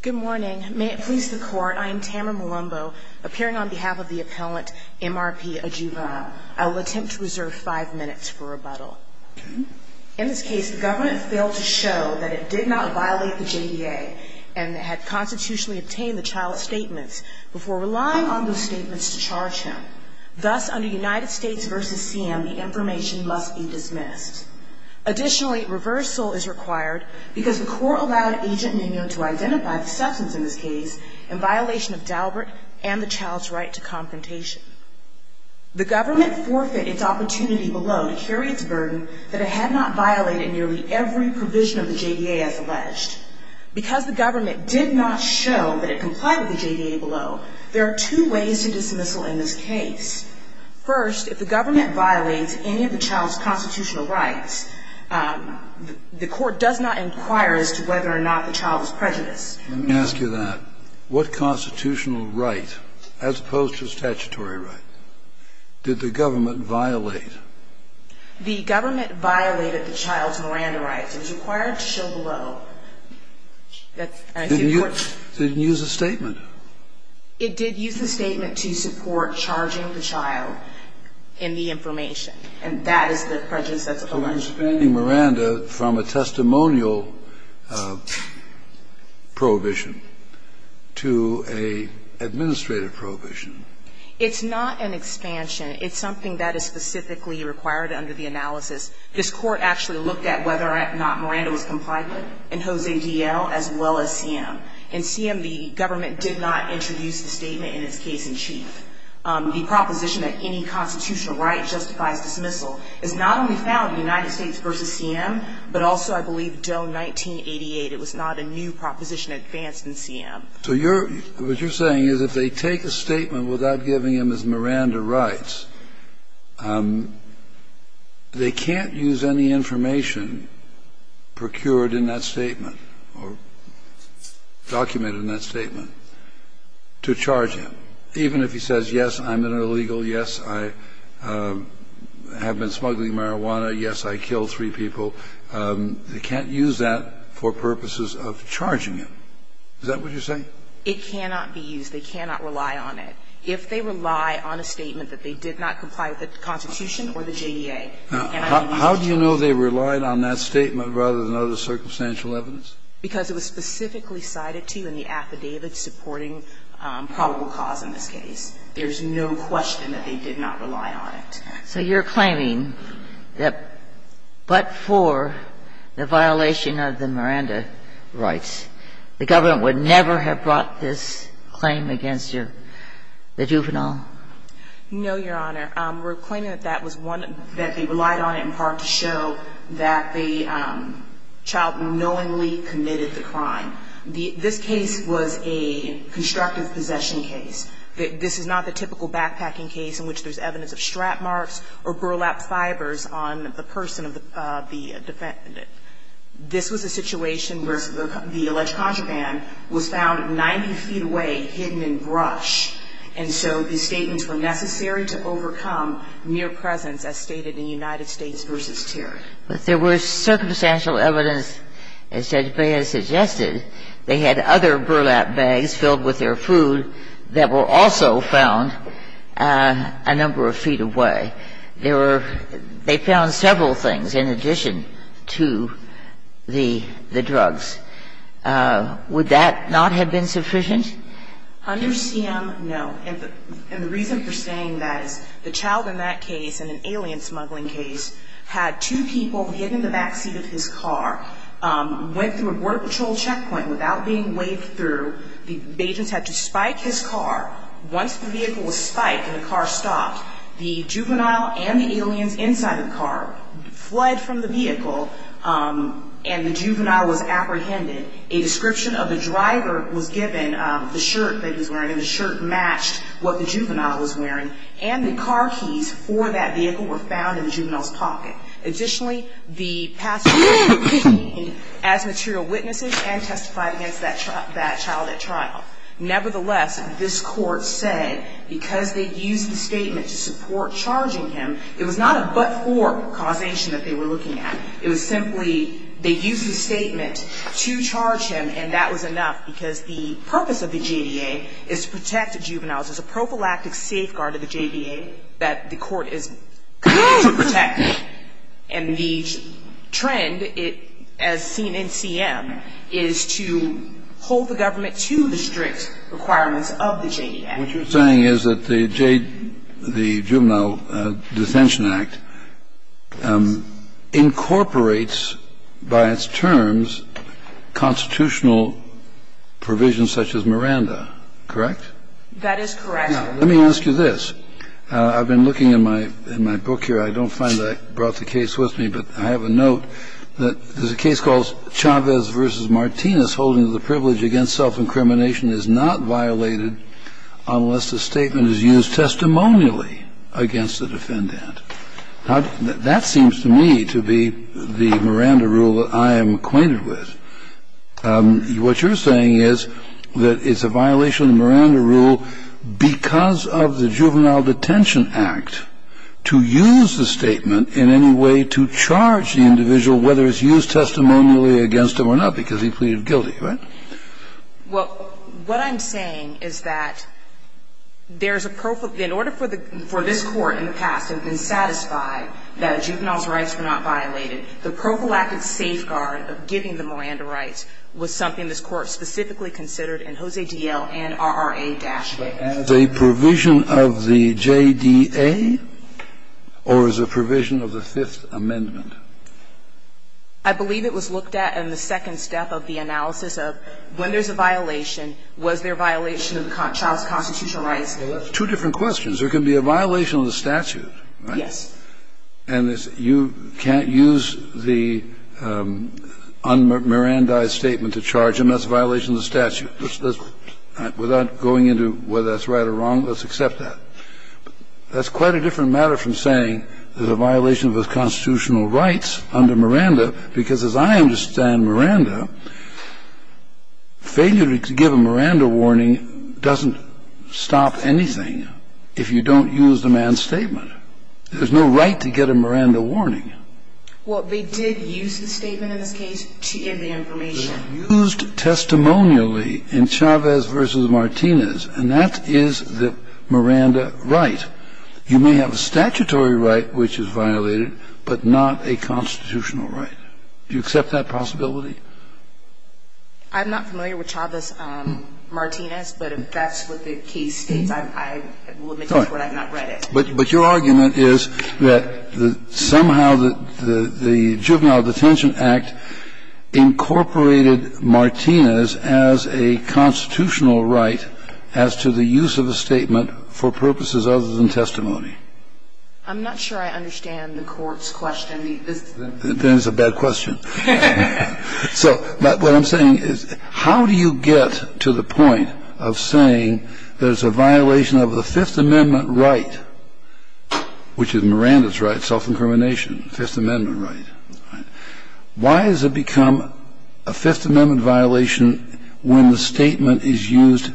Good morning. May it please the Court, I am Tamara Malumbo, appearing on behalf of the appellant, MRP, a juvenile. I will attempt to reserve five minutes for rebuttal. In this case, the government failed to show that it did not violate the JDA and had constitutionally obtained the child's statements before relying on those statements to charge him. Thus, under United States v. CM, the information must be dismissed. Additionally, reversal is required because the Court allowed Agent Mignon to identify the substance in this case in violation of Daubert and the child's right to confrontation. The government forfeited its opportunity below to carry its burden that it had not violated nearly every provision of the JDA as alleged. Because the government did not show that it complied with the JDA below, there are two ways to dismissal in this case. First, if the government violates any of the child's constitutional rights, the Court does not inquire as to whether or not the child is prejudiced. Kennedy. Let me ask you that. What constitutional right, as opposed to statutory right, did the government violate? Malumbo. The government violated the child's Miranda rights. It was required to show below. Kennedy. Did it use a statement? Malumbo. It did use a statement to support charging the child in the information. And that is the prejudice that's alleged. Kennedy. So you're expanding Miranda from a testimonial prohibition to an administrative prohibition. Malumbo. It's not an expansion. It's something that is specifically required under the analysis. This Court actually looked at whether or not Miranda was compliant in Jose D.L. as well as C.M. In C.M., the government did not introduce the statement in its case in chief. The proposition that any constitutional right justifies dismissal is not only found in the United States v. C.M., but also, I believe, Doe 1988. It was not a new proposition advanced in C.M. Kennedy. So you're what you're saying is if they take a statement without giving him his Miranda rights, they can't use any information procured in that statement or documented in that statement to charge him, even if he says, yes, I'm an illegal, yes, I have been smuggling marijuana, yes, I killed three people. They can't use that for purposes of charging him. Is that what you're saying? It cannot be used. They cannot rely on it. If they rely on a statement that they did not comply with the Constitution or the JDA, they cannot be used to charge him. Now, how do you know they relied on that statement rather than other circumstantial evidence? Because it was specifically cited to you in the affidavit supporting probable cause in this case. There's no question that they did not rely on it. So you're claiming that but for the violation of the Miranda rights, the government would never have brought this claim against the juvenile? No, Your Honor. We're claiming that that was one that they relied on in part to show that the child knowingly committed the crime. This case was a constructive possession case. This is not the typical backpacking case in which there's evidence of strap marks or burlap fibers on the person of the defendant. This was a situation where the alleged contraband was found 90 feet away, hidden in brush. And so these statements were necessary to overcome mere presence, as stated in United States v. Terry. But there was circumstantial evidence, as Judge Baez suggested, they had other burlap bags filled with their food that were also found a number of feet away. There were they found several things in addition to the drugs. Would that not have been sufficient? Under CM, no. And the reason for saying that is the child in that case, in an alien smuggling case, had two people hidden in the backseat of his car, went through a border patrol checkpoint without being waved through. The agents had to spike his car. Once the vehicle was spiked and the car stopped, the juvenile and the aliens inside the car fled from the vehicle and the juvenile was apprehended. A description of the driver was given, the shirt that he was wearing, and the shirt matched what the juvenile was wearing. And the car keys for that vehicle were found in the juvenile's pocket. Additionally, the passenger was detained as material witnesses and testified against that child at trial. Nevertheless, this Court said because they used the statement to support charging him, it was not a but-for causation that they were looking at. It was simply they used the statement to charge him and that was enough because the purpose of the JDA is to protect the juveniles. It's a prophylactic safeguard of the JDA that the Court is committed to protecting. And the trend, as seen in CM, is to hold the government to the strict requirements of the JDA. What you're saying is that the Juvenile Dissension Act incorporates, by its terms, constitutional provisions such as Miranda, correct? That is correct. Now, let me ask you this. I've been looking in my book here. I don't find that I brought the case with me, but I have a note that there's a case called Chavez v. Martinez holding that the privilege against self-incrimination is not violated unless the statement is used testimonially against the defendant. Now, that seems to me to be the Miranda rule that I am acquainted with. What you're saying is that it's a violation of the Miranda rule because of the Juvenile Detention Act to use the statement in any way to charge the individual, whether it's used testimonially against him or not, because he pleaded guilty, right? Well, what I'm saying is that there's a prophylactic – in order for this Court in the past to have been satisfied that a juvenile's rights were not violated, the rights was something this Court specifically considered in Jose D.L. and R.R.A. Daschle. But as a provision of the J.D.A. or as a provision of the Fifth Amendment? I believe it was looked at in the second step of the analysis of when there's a violation, was there a violation of the child's constitutional rights? Two different questions. There can be a violation of the statute, right? Yes. And you can't use the un-Mirandaized statement to charge him. That's a violation of the statute. Without going into whether that's right or wrong, let's accept that. That's quite a different matter from saying there's a violation of the constitutional rights under Miranda, because as I understand Miranda, failure to give a Miranda warning doesn't stop anything if you don't use the man's statement. There's no right to get a Miranda warning. Well, they did use the statement in this case to give the information. They used it testimonially in Chavez v. Martinez, and that is the Miranda right. You may have a statutory right which is violated, but not a constitutional right. Do you accept that possibility? I'm not familiar with Chavez-Martinez, but if that's what the case states, I will admit that's what I've not read it. But your argument is that somehow the Juvenile Detention Act incorporated Martinez as a constitutional right as to the use of a statement for purposes other than testimony. I'm not sure I understand the Court's question. Then it's a bad question. So what I'm saying is, how do you get to the point of saying there's a violation of the Fifth Amendment right, which is Miranda's right, self-incrimination, Fifth Amendment right? Why has it become a Fifth Amendment violation when the statement is used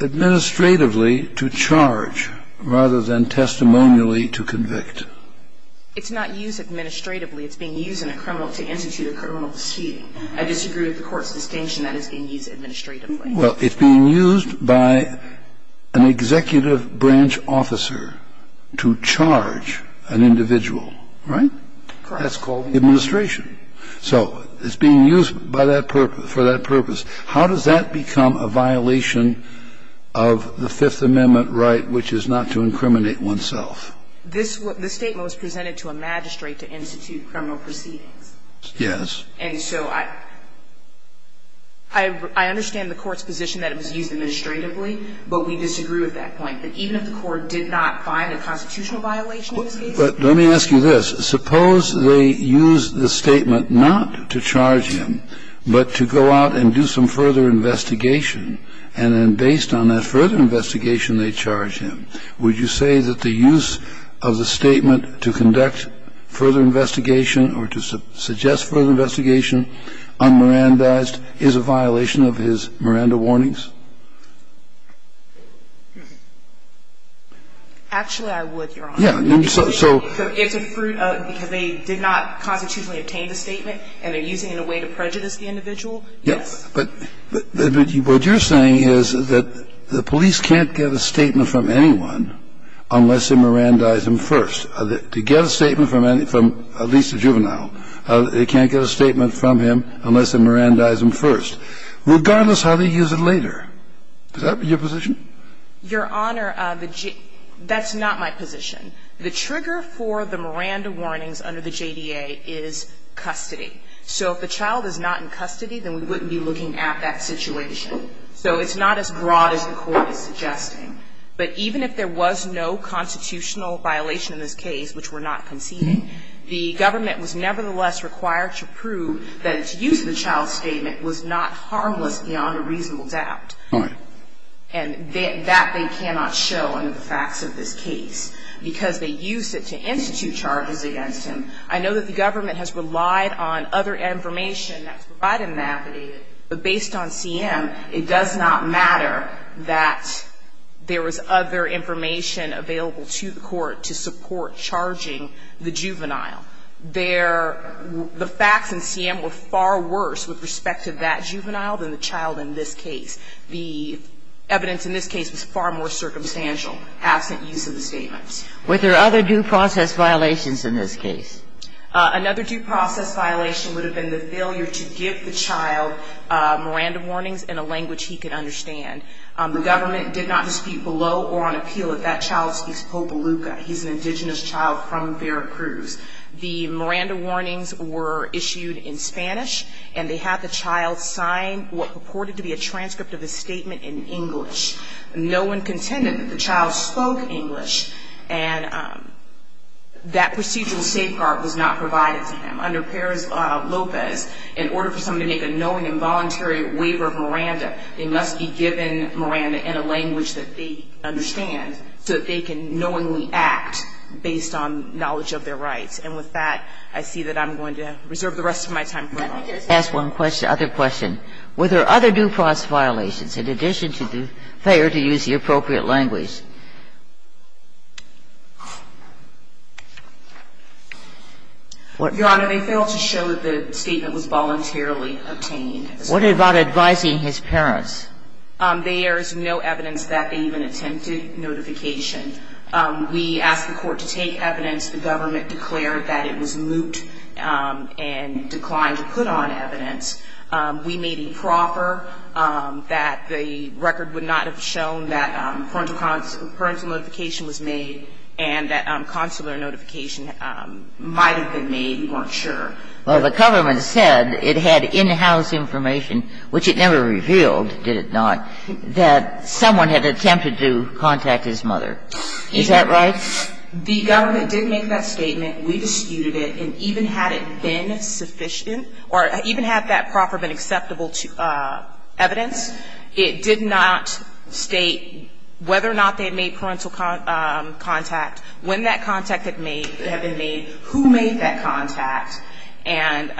administratively to charge rather than testimonially to convict? It's not used administratively. It's being used in a criminal to institute a criminal proceeding. I disagree with the Court's distinction that it's being used administratively. Well, it's being used by an executive branch officer to charge an individual. Right? That's called administration. So it's being used for that purpose. How does that become a violation of the Fifth Amendment right, which is not to incriminate oneself? The statement was presented to a magistrate to institute criminal proceedings. Yes. And so I understand the Court's position that it was used administratively, but we disagree with that point, that even if the Court did not find a constitutional violation in this case. But let me ask you this. Suppose they use the statement not to charge him, but to go out and do some further investigation. And then based on that further investigation, they charge him. Would you say that the use of the statement to conduct further investigation or to suggest further investigation unmerandized is a violation of his Miranda warnings? Actually, I would, Your Honor. Yeah. So. Because they did not constitutionally obtain the statement, and they're using it in a way to prejudice the individual? Yes. But what you're saying is that the police can't get a statement from anyone unless they merandize him first. To get a statement from at least a juvenile, they can't get a statement from him unless they merandize him first, regardless how they use it later. Is that your position? Your Honor, that's not my position. The trigger for the Miranda warnings under the JDA is custody. So if the child is not in custody, then we wouldn't be looking at that situation. So it's not as broad as the Court is suggesting. But even if there was no constitutional violation in this case, which we're not conceding, the government was nevertheless required to prove that its use of the child's statement was not harmless beyond a reasonable doubt. All right. And that they cannot show under the facts of this case, because they used it to institute charges against him. I know that the government has relied on other information that's provided in that there was other information available to the Court to support charging the juvenile. The facts in CM were far worse with respect to that juvenile than the child in this case. The evidence in this case was far more circumstantial, absent use of the statements. Were there other due process violations in this case? Another due process violation would have been the failure to give the child Miranda warnings in a language he could understand. The government did not dispute below or on appeal that that child speaks Popoluca. He's an indigenous child from Veracruz. The Miranda warnings were issued in Spanish, and they had the child sign what purported to be a transcript of his statement in English. No one contended that the child spoke English. And that procedural safeguard was not provided to him. Under Perez-Lopez, in order for someone to make a knowing and voluntary waiver of Miranda, they must be given Miranda in a language that they understand so that they can knowingly act based on knowledge of their rights. And with that, I see that I'm going to reserve the rest of my time. Let me just ask one other question. Were there other due process violations in addition to the failure to use the appropriate language? Your Honor, they failed to show that the statement was voluntarily obtained. What about advising his parents? There's no evidence that they even attempted notification. We asked the court to take evidence. The government declared that it was moot and declined to put on evidence. We made a proffer that the record would not have shown that parental notification was made and that consular notification might have been made. We weren't sure. Well, the government said it had in-house information, which it never revealed, did it not, that someone had attempted to contact his mother. Is that right? The government did make that statement. We disputed it. And even had it been sufficient or even had that proffer been acceptable to evidence, it did not state whether or not they had made parental contact, when that contact had been made, who made that contact. And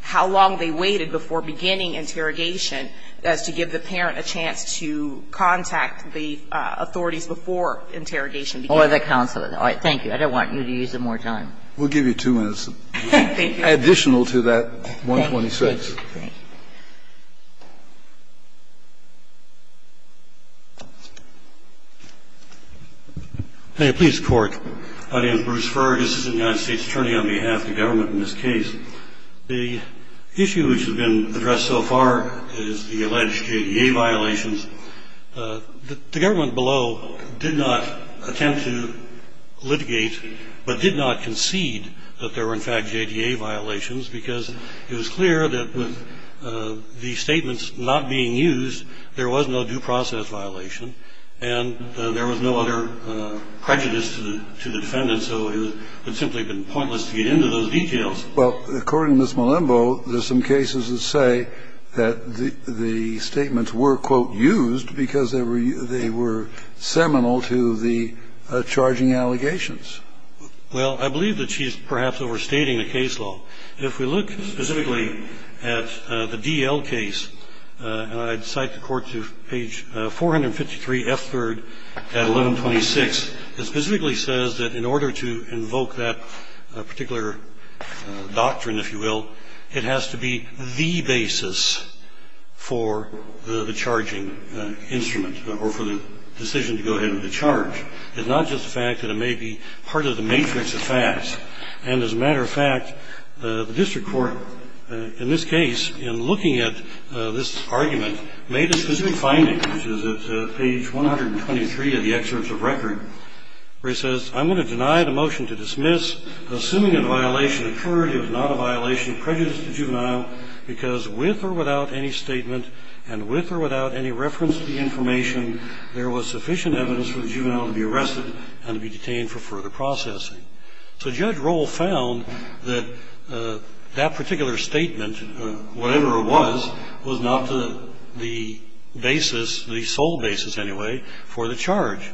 how long they waited before beginning interrogation as to give the parent a chance to contact the authorities before interrogation began. All right. Thank you. I don't want you to use it more time. We'll give you two minutes. Thank you. Additional to that, 126. Thank you. Thank you. May it please the Court. My name is Bruce Ferguson. I'm the United States Attorney on behalf of the government in this case. The issue which has been addressed so far is the alleged JDA violations. The government below did not attempt to litigate but did not concede that there were in fact JDA violations because it was clear that with the statements not being used, there was no due process violation and there was no other prejudice to the defendant, so it would simply have been pointless to get into those details. Well, according to Ms. Malembo, there's some cases that say that the statements were, quote, used because they were seminal to the charging allegations. Well, I believe that she's perhaps overstating the case law. If we look specifically at the D.L. case, and I'd cite the Court to page 453 F. 3rd at 1126, it specifically says that in order to invoke that particular doctrine, if you will, it has to be the basis for the charging instrument or for the decision to go ahead with the charge. It's not just the fact that it may be part of the matrix of facts. And as a matter of fact, the district court, in this case, in looking at this I'm going to deny the motion to dismiss. Assuming a violation occurred, it was not a violation of prejudice to the juvenile because with or without any statement and with or without any reference to the information, there was sufficient evidence for the juvenile to be arrested and to be detained for further processing. So Judge Roll found that that particular statement, whatever it was, was not the basis, the sole basis anyway, for the charge.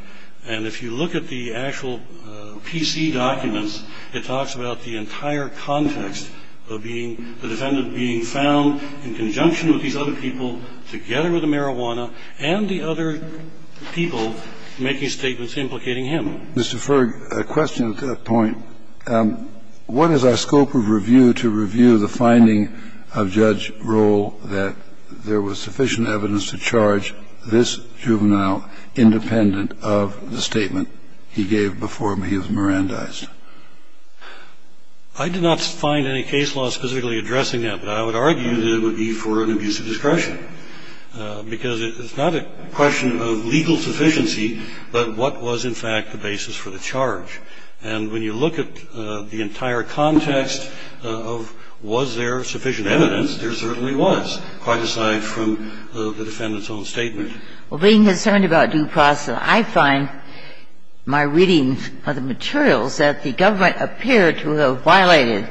And if you look at the actual P.C. documents, it talks about the entire context of being the defendant being found in conjunction with these other people together with the marijuana and the other people making statements implicating him. Mr. Ferg, a question to that point. What is our scope of review to review the finding of Judge Roll that there was sufficient evidence to charge this juvenile independent of the statement he gave before he was Mirandized? I did not find any case law specifically addressing that, but I would argue that it would be for an abuse of discretion. Because it's not a question of legal sufficiency, but what was in fact the basis for the charge. And when you look at the entire context of was there sufficient evidence, there certainly was, quite aside from the defendant's own statement. Well, being concerned about due process, I find my reading of the materials that the government appeared to have violated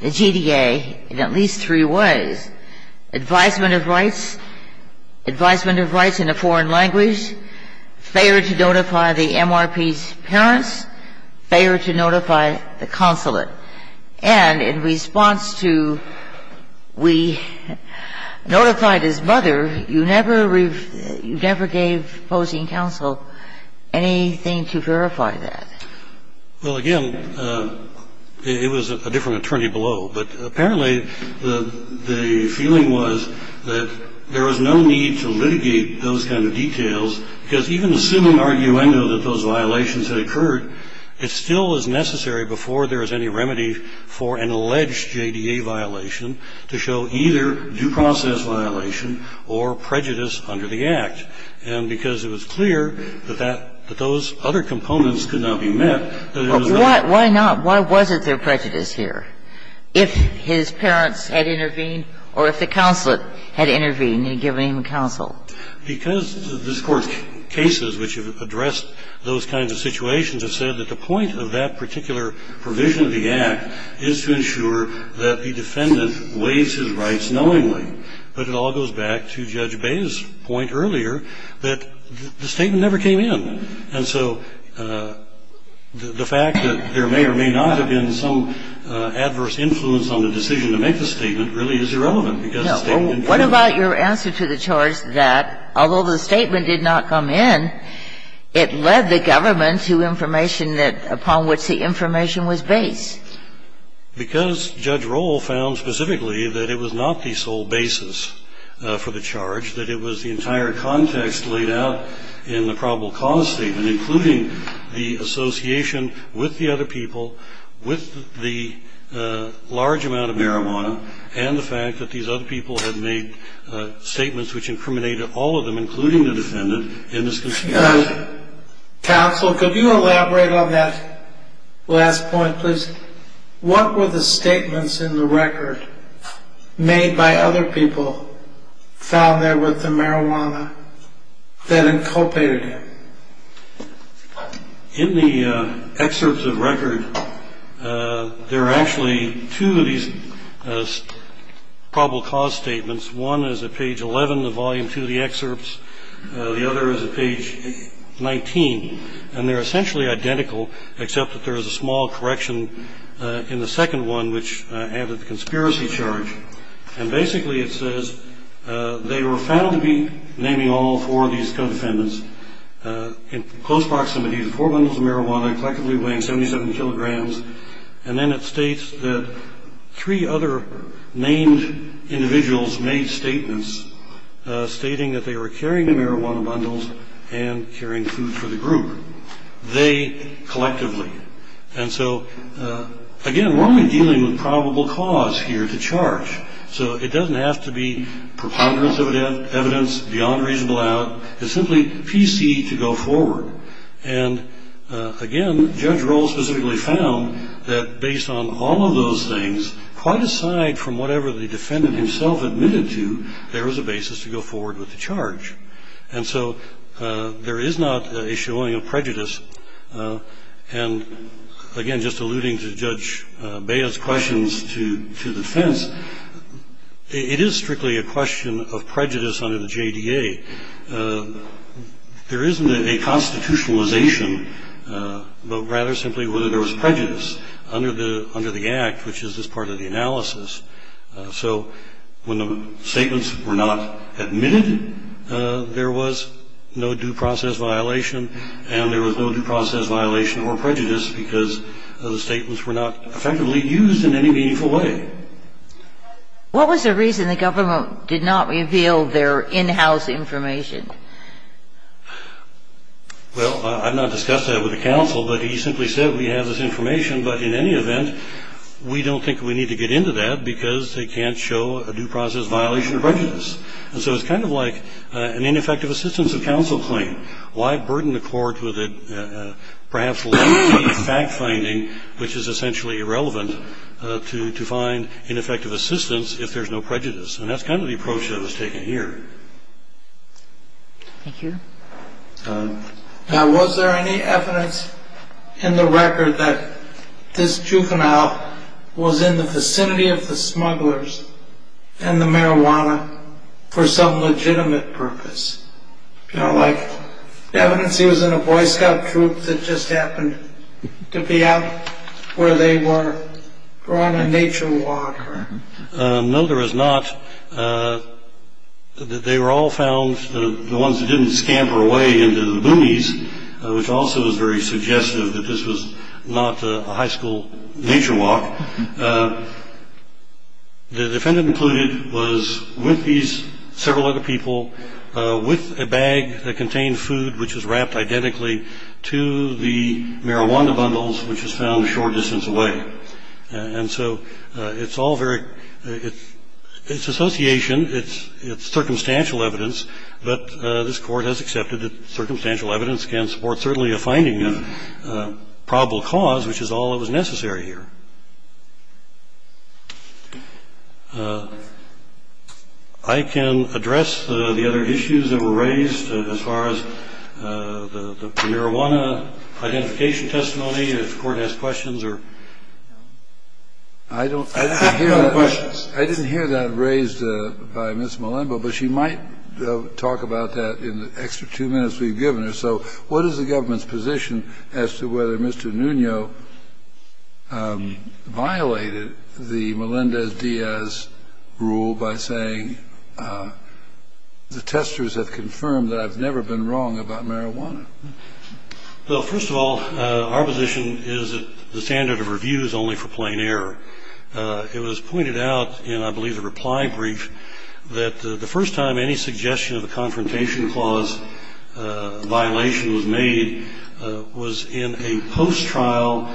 the GDA in at least three ways. Advisement of rights, advisement of rights in a foreign language, failure to notify the MRP's parents, failure to notify the consulate. And in response to we notified his mother, you never gave opposing counsel anything to verify that. Well, again, it was a different attorney below. But apparently the feeling was that there was no need to litigate those kind of details because even assuming arguendo that those violations had occurred, it still is necessary before there is any remedy for an alleged GDA violation to show either due process violation or prejudice under the Act. And because it was clear that that those other components could not be met, that it was not. Why not? Why wasn't there prejudice here? If his parents had intervened or if the consulate had intervened and given him counsel? Because this Court's cases which have addressed those kinds of situations have said that the point of that particular provision of the Act is to ensure that the defendant waives his rights knowingly. But it all goes back to Judge Bayh's point earlier that the statement never came in, and so the fact that there may or may not have been some adverse influence on the decision to make the statement really is irrelevant because the statement What about your answer to the charge that although the statement did not come in, it led the government to information that upon which the information was based? Because Judge Rohl found specifically that it was not the sole basis for the charge, that it was the entire context laid out in the probable cause statement, including the association with the other people, with the large amount of marijuana, and the statements which incriminated all of them, including the defendant, in this case. Counsel, could you elaborate on that last point, please? What were the statements in the record made by other people found there with the marijuana that inculpated him? In the excerpts of record, there are actually two of these probable cause statements One is at page 11 of volume 2 of the excerpts, the other is at page 19 and they're essentially identical except that there is a small correction in the second one which added the conspiracy charge, and basically it says they were found to be naming all four of these co-defendants in close proximity to four bundles of marijuana, collectively weighing 77 kilograms, and then it states that three other named individuals made statements stating that they were carrying the marijuana bundles and carrying food for the group. They, collectively. And so, again, we're only dealing with probable cause here to charge so it doesn't have to be preponderance of evidence beyond reasonable doubt. It's simply PC to go forward. And, again, Judge Rohl specifically found that based on all of those things, quite aside from whatever the defendant himself admitted to there is a basis to go forward with the charge. And so, there is not a showing of prejudice and, again, just alluding to Judge Baya's questions to the defense it is strictly a question of prejudice under the JDA. There isn't a constitutionalization, but rather simply whether there was prejudice under the act, which is this part of the analysis. So, when the statements were not admitted, there was no due process violation and there was no due process violation or prejudice because the statements were not effectively used in any meaningful way. What was the reason the government did not reveal their in-house information? Well, I've not discussed that with the counsel, but he simply said we have this information, but in any event we don't think we need to get into that because they can't show a due process violation or prejudice. And so it's kind of like an ineffective assistance of counsel claim. Why burden the court with perhaps lengthy fact-finding, which is essentially irrelevant, to find ineffective assistance if there's no prejudice? And that's kind of the approach that was taken here. Thank you. Now, was there any evidence in the record that this juvenile was in the vicinity of the smugglers and the marijuana for some legitimate purpose? You know, like evidence he was in a Boy Scout troop that just happened to be out where they were on a nature walk? No, there was not. They were all found, the ones that didn't scamper away into the boonies, which also is very suggestive that this was not a high school nature walk. The defendant included was with these several other people with a bag that contained food which was wrapped identically to the marijuana bundles which was found a short distance away. It's association, it's circumstantial evidence, but this court has accepted that I can address the other issues that were raised as far as the marijuana identification testimony. If the court has questions or... I didn't hear that raised by Ms. Malembo, but she might talk about that in the extra two minutes we've given her. So what is the government's position as to whether Mr. Nuno violated the Melendez-Diaz rule by saying the testers have confirmed that I've never been wrong about marijuana? Well, first of all, our position is that the standard of review is only for plain error. It was pointed out in, I believe, a reply brief that the first time any suggestion of a confrontation clause violation was made was in a post-trial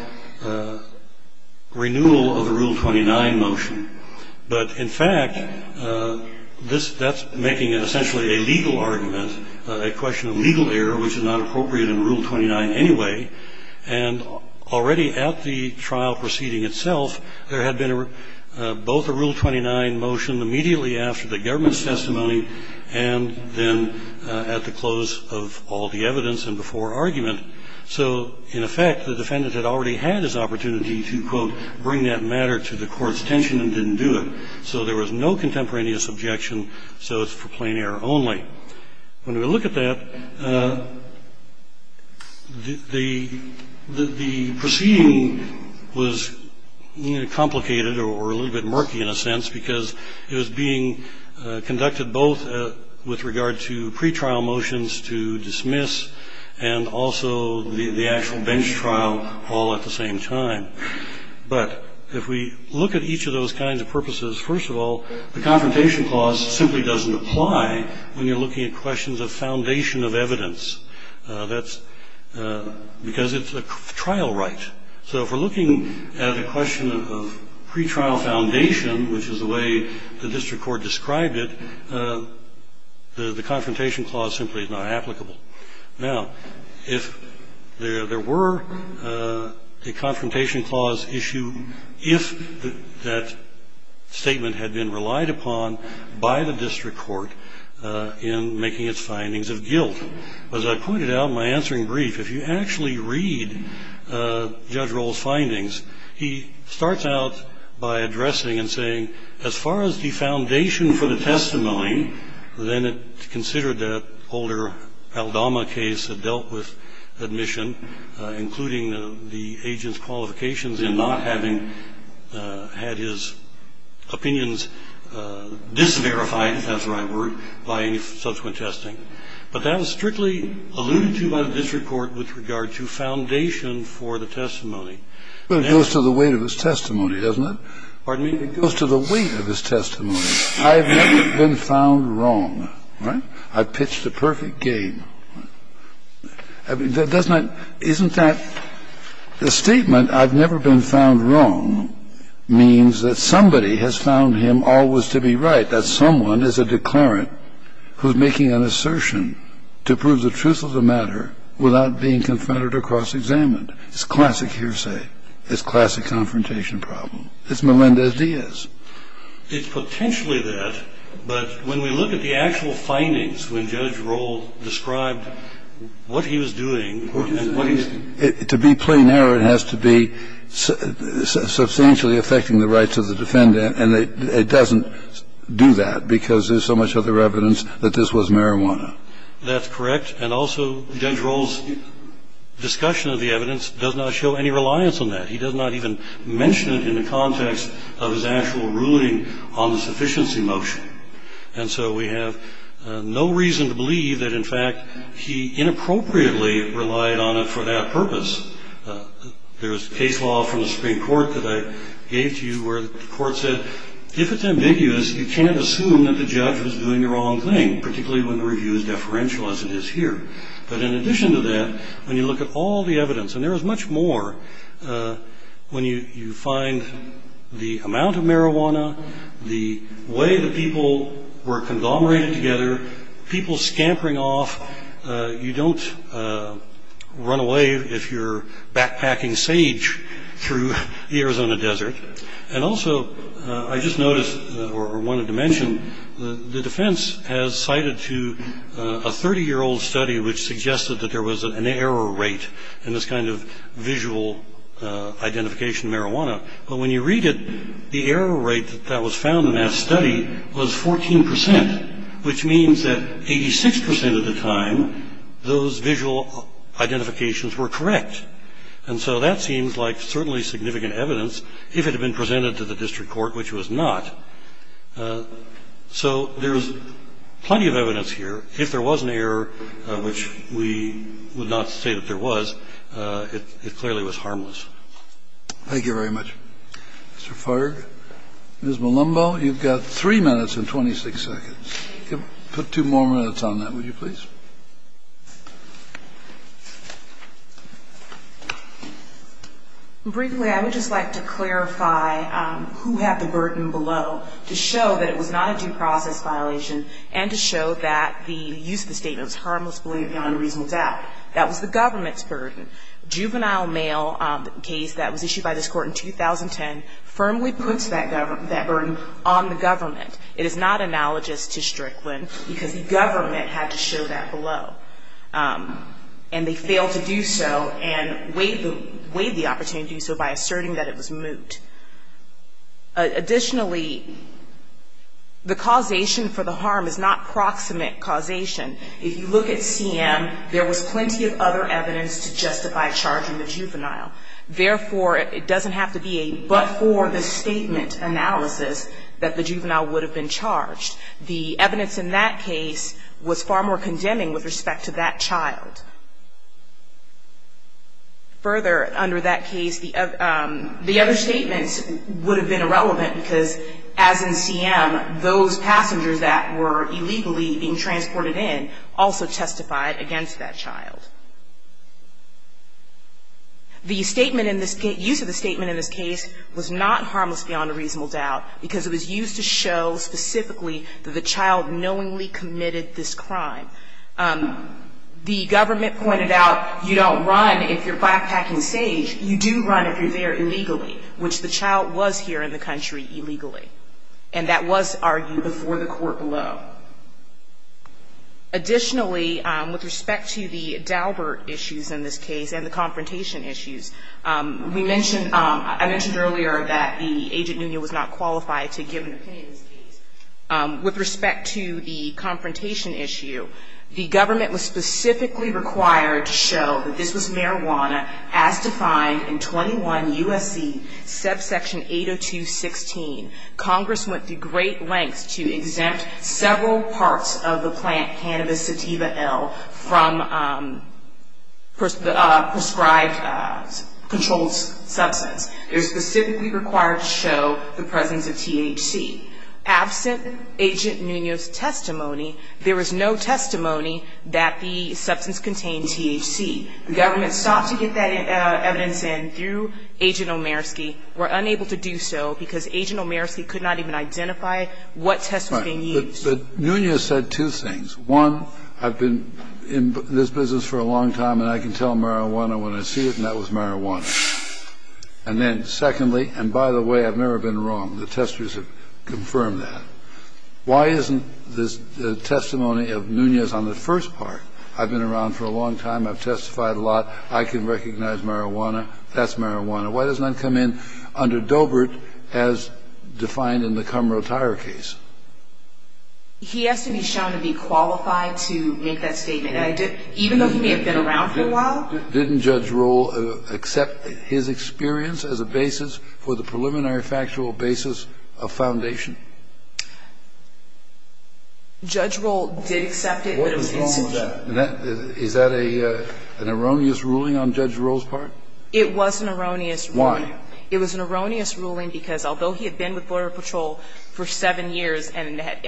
renewal of the Rule 29 motion, but in fact that's making it essentially a legal argument, a question of legal error which is not appropriate in Rule 29 anyway, and already at the trial proceeding itself there had been both a Rule 29 motion immediately after the government's testimony and then at the close of all the evidence and before argument, so in effect the defendant had already had his opportunity to, quote, bring that matter to the court's attention and didn't do it. So there was no contemporaneous objection, so it's for plain error only. When we look at that, the proceeding was complicated or a little bit murky in a sense because it was being conducted both with regard to pretrial motions to dismiss and also the actual bench trial all at the same time. But if we look at each of those kinds of purposes, first of all, the confrontation clause simply doesn't apply when you're looking at questions of foundation of evidence because it's a trial right. So if we're looking at a question of pretrial foundation which is the way the district court described it, the confrontation clause simply is not applicable. Now, if there were a confrontation clause issue if that statement had been relied upon by the district court in making its findings of guilt. As I pointed out in my answering brief, if you actually read Judge Roll's findings, he starts out by addressing and saying as far as the foundation for the testimony, then it's considered that older Aldama case had dealt with admission, including the agent's qualifications in not having had his opinions disverified, if that's the right word, by any subsequent testing. But that was strictly alluded to by the district court with regard to foundation for the testimony. Well, it goes to the weight of his testimony, doesn't it? Pardon me? It goes to the weight of his testimony. I've never been found wrong. Right? I've pitched the perfect game. Doesn't that – isn't that – the statement I've never been found wrong means that somebody has found him always to be right, that someone is a declarant who's making an assertion to prove the truth of the matter without being confronted or cross-examined. It's classic hearsay. It's classic confrontation problem. It's Melendez Diaz. It's potentially that, but when we look at the actual findings when Judge Roll described what he was doing and what he – To be plain error, it has to be substantially affecting the rights of the defendant, and it doesn't do that because there's so much other evidence that this was marijuana. That's correct, and also Judge Roll's discussion of the evidence does not show any reliance on that. He does not even mention it in the context of his actual ruling on the sufficiency motion. And so we have no reason to believe that, in fact, he inappropriately relied on it for that purpose. There's case law from the Supreme Court that I gave to you where the court said, if it's ambiguous, you can't assume that the judge was doing the wrong thing, particularly when the review is deferential, as it is here. But in addition to that, when you look at all the evidence, and there is much more, when you find the amount of marijuana, the way the people were conglomerated together, people scampering off. You don't run away if you're backpacking sage through the Arizona desert. And also, I just noticed, or wanted to mention, the defense has cited to a 30-year-old study which suggested that there was an error rate in this kind of visual identification of marijuana. But when you read it, the error rate that was found in that study was 14 percent, which means that 86 percent of the time, those visual identifications were correct. And so that seems like certainly significant evidence, if it had been presented to the district court, which it was not. So there's plenty of evidence here. If there was an error, which we would not say that there was, it clearly was harmless. Thank you very much. Mr. Farg, Ms. Malumbo, you've got three minutes and 26 seconds. Put two more minutes on that, would you please? Briefly, I would just like to clarify who had the burden below to show that it was not a due process violation and to show that the use of the statement was harmless, beyond reasonable doubt. That was the government's burden. Juvenile mail case that was issued by this court in 2010 firmly puts that burden on the government. It is not analogous to Strickland, because the government had to show that below. And they failed to do so and waived the opportunity to do so by asserting that it was moot. Additionally, the causation for the harm is not proximate causation. If you look at CM, there was plenty of other evidence to justify charging the juvenile. Therefore, it doesn't have to be a but-for-the-statement analysis that the juvenile would have been charged. The evidence in that case was far more condemning with respect to that child. Further, under that case, the other statements would have been irrelevant, because as in CM, those passengers that were illegally being transported in also testified against that child. The use of the statement in this case was not harmless beyond a reasonable doubt, because it was used to show specifically that the child knowingly committed this crime. The government pointed out you don't run if you're backpacking sage. You do run if you're there illegally, which the child was here in the country illegally. And that was argued before the court below. Additionally, with respect to the Daubert issues in this case and the confrontation issues, I mentioned earlier that the agent was not qualified to give an opinion in this case. With respect to the confrontation issue, the government was specifically required to show that this was marijuana as defined in 21 U.S.C. subsection 802.16. Congress went to great lengths to exempt several parts of the plant cannabis sativa L from prescribed controlled substance. It was specifically required to show the presence of THC. Absent Agent Munoz's testimony, there was no testimony that the substance contained THC. The government sought to get that evidence in through Agent Omersky. And Agent Omersky was unable to do so because Agent Omersky could not even identify what test was being used. But Munoz said two things. One, I've been in this business for a long time, and I can tell marijuana when I see it, and that was marijuana. And then secondly, and by the way, I've never been wrong. The testers have confirmed that. Why isn't the testimony of Munoz on the first part? I've been around for a long time. I've testified a lot. I can recognize marijuana. That's marijuana. Why does it not come in under Doebert as defined in the Cummerill Tire case? He has to be shown to be qualified to make that statement. Even though he may have been around for a while. Didn't Judge Roll accept his experience as a basis for the preliminary factual basis of foundation? Judge Roll did accept it, but it was insufficient. What was wrong with that? Is that an erroneous ruling on Judge Roll's part? It was an erroneous ruling. Why? It was an erroneous ruling because although he had been with Border Patrol for seven years, and had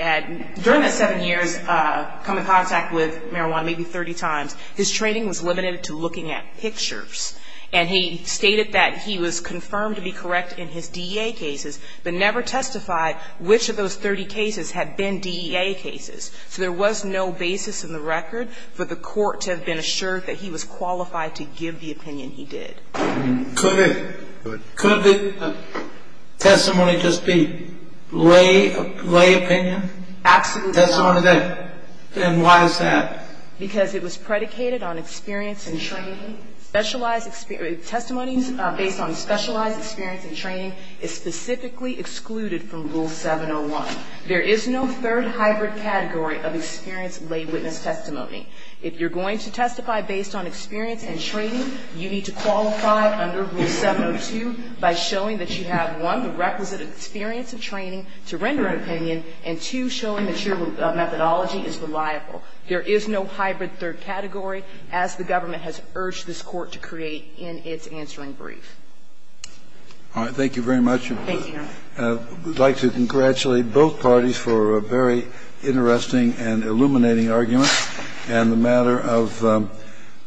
during that seven years come in contact with marijuana maybe 30 times, his training was limited to looking at pictures. And he stated that he was confirmed to be correct in his DEA cases, but never testified which of those 30 cases had been DEA cases. So there was no basis in the record for the court to have been assured that he was qualified to give the opinion he did. Could the testimony just be lay opinion? Absolutely. Testimony of that. And why is that? Because it was predicated on experience and training. Testimonies based on specialized experience and training is specifically excluded from Rule 701. There is no third hybrid category of experience lay witness testimony. If you're going to testify based on experience and training, you need to qualify under Rule 702 by showing that you have, one, the requisite experience of training to render an opinion, and, two, showing that your methodology is reliable. There is no hybrid third category, as the government has urged this Court to create in its answering brief. All right. Thank you very much. Thank you, Your Honor. We'd like to congratulate both parties for a very interesting and illuminating argument. And the matter of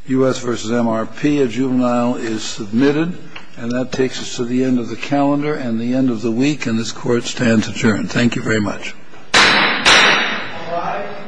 U.S. v. MRP, a juvenile is submitted. And that takes us to the end of the calendar and the end of the week, and this Court stands adjourned. Thank you very much. All rise.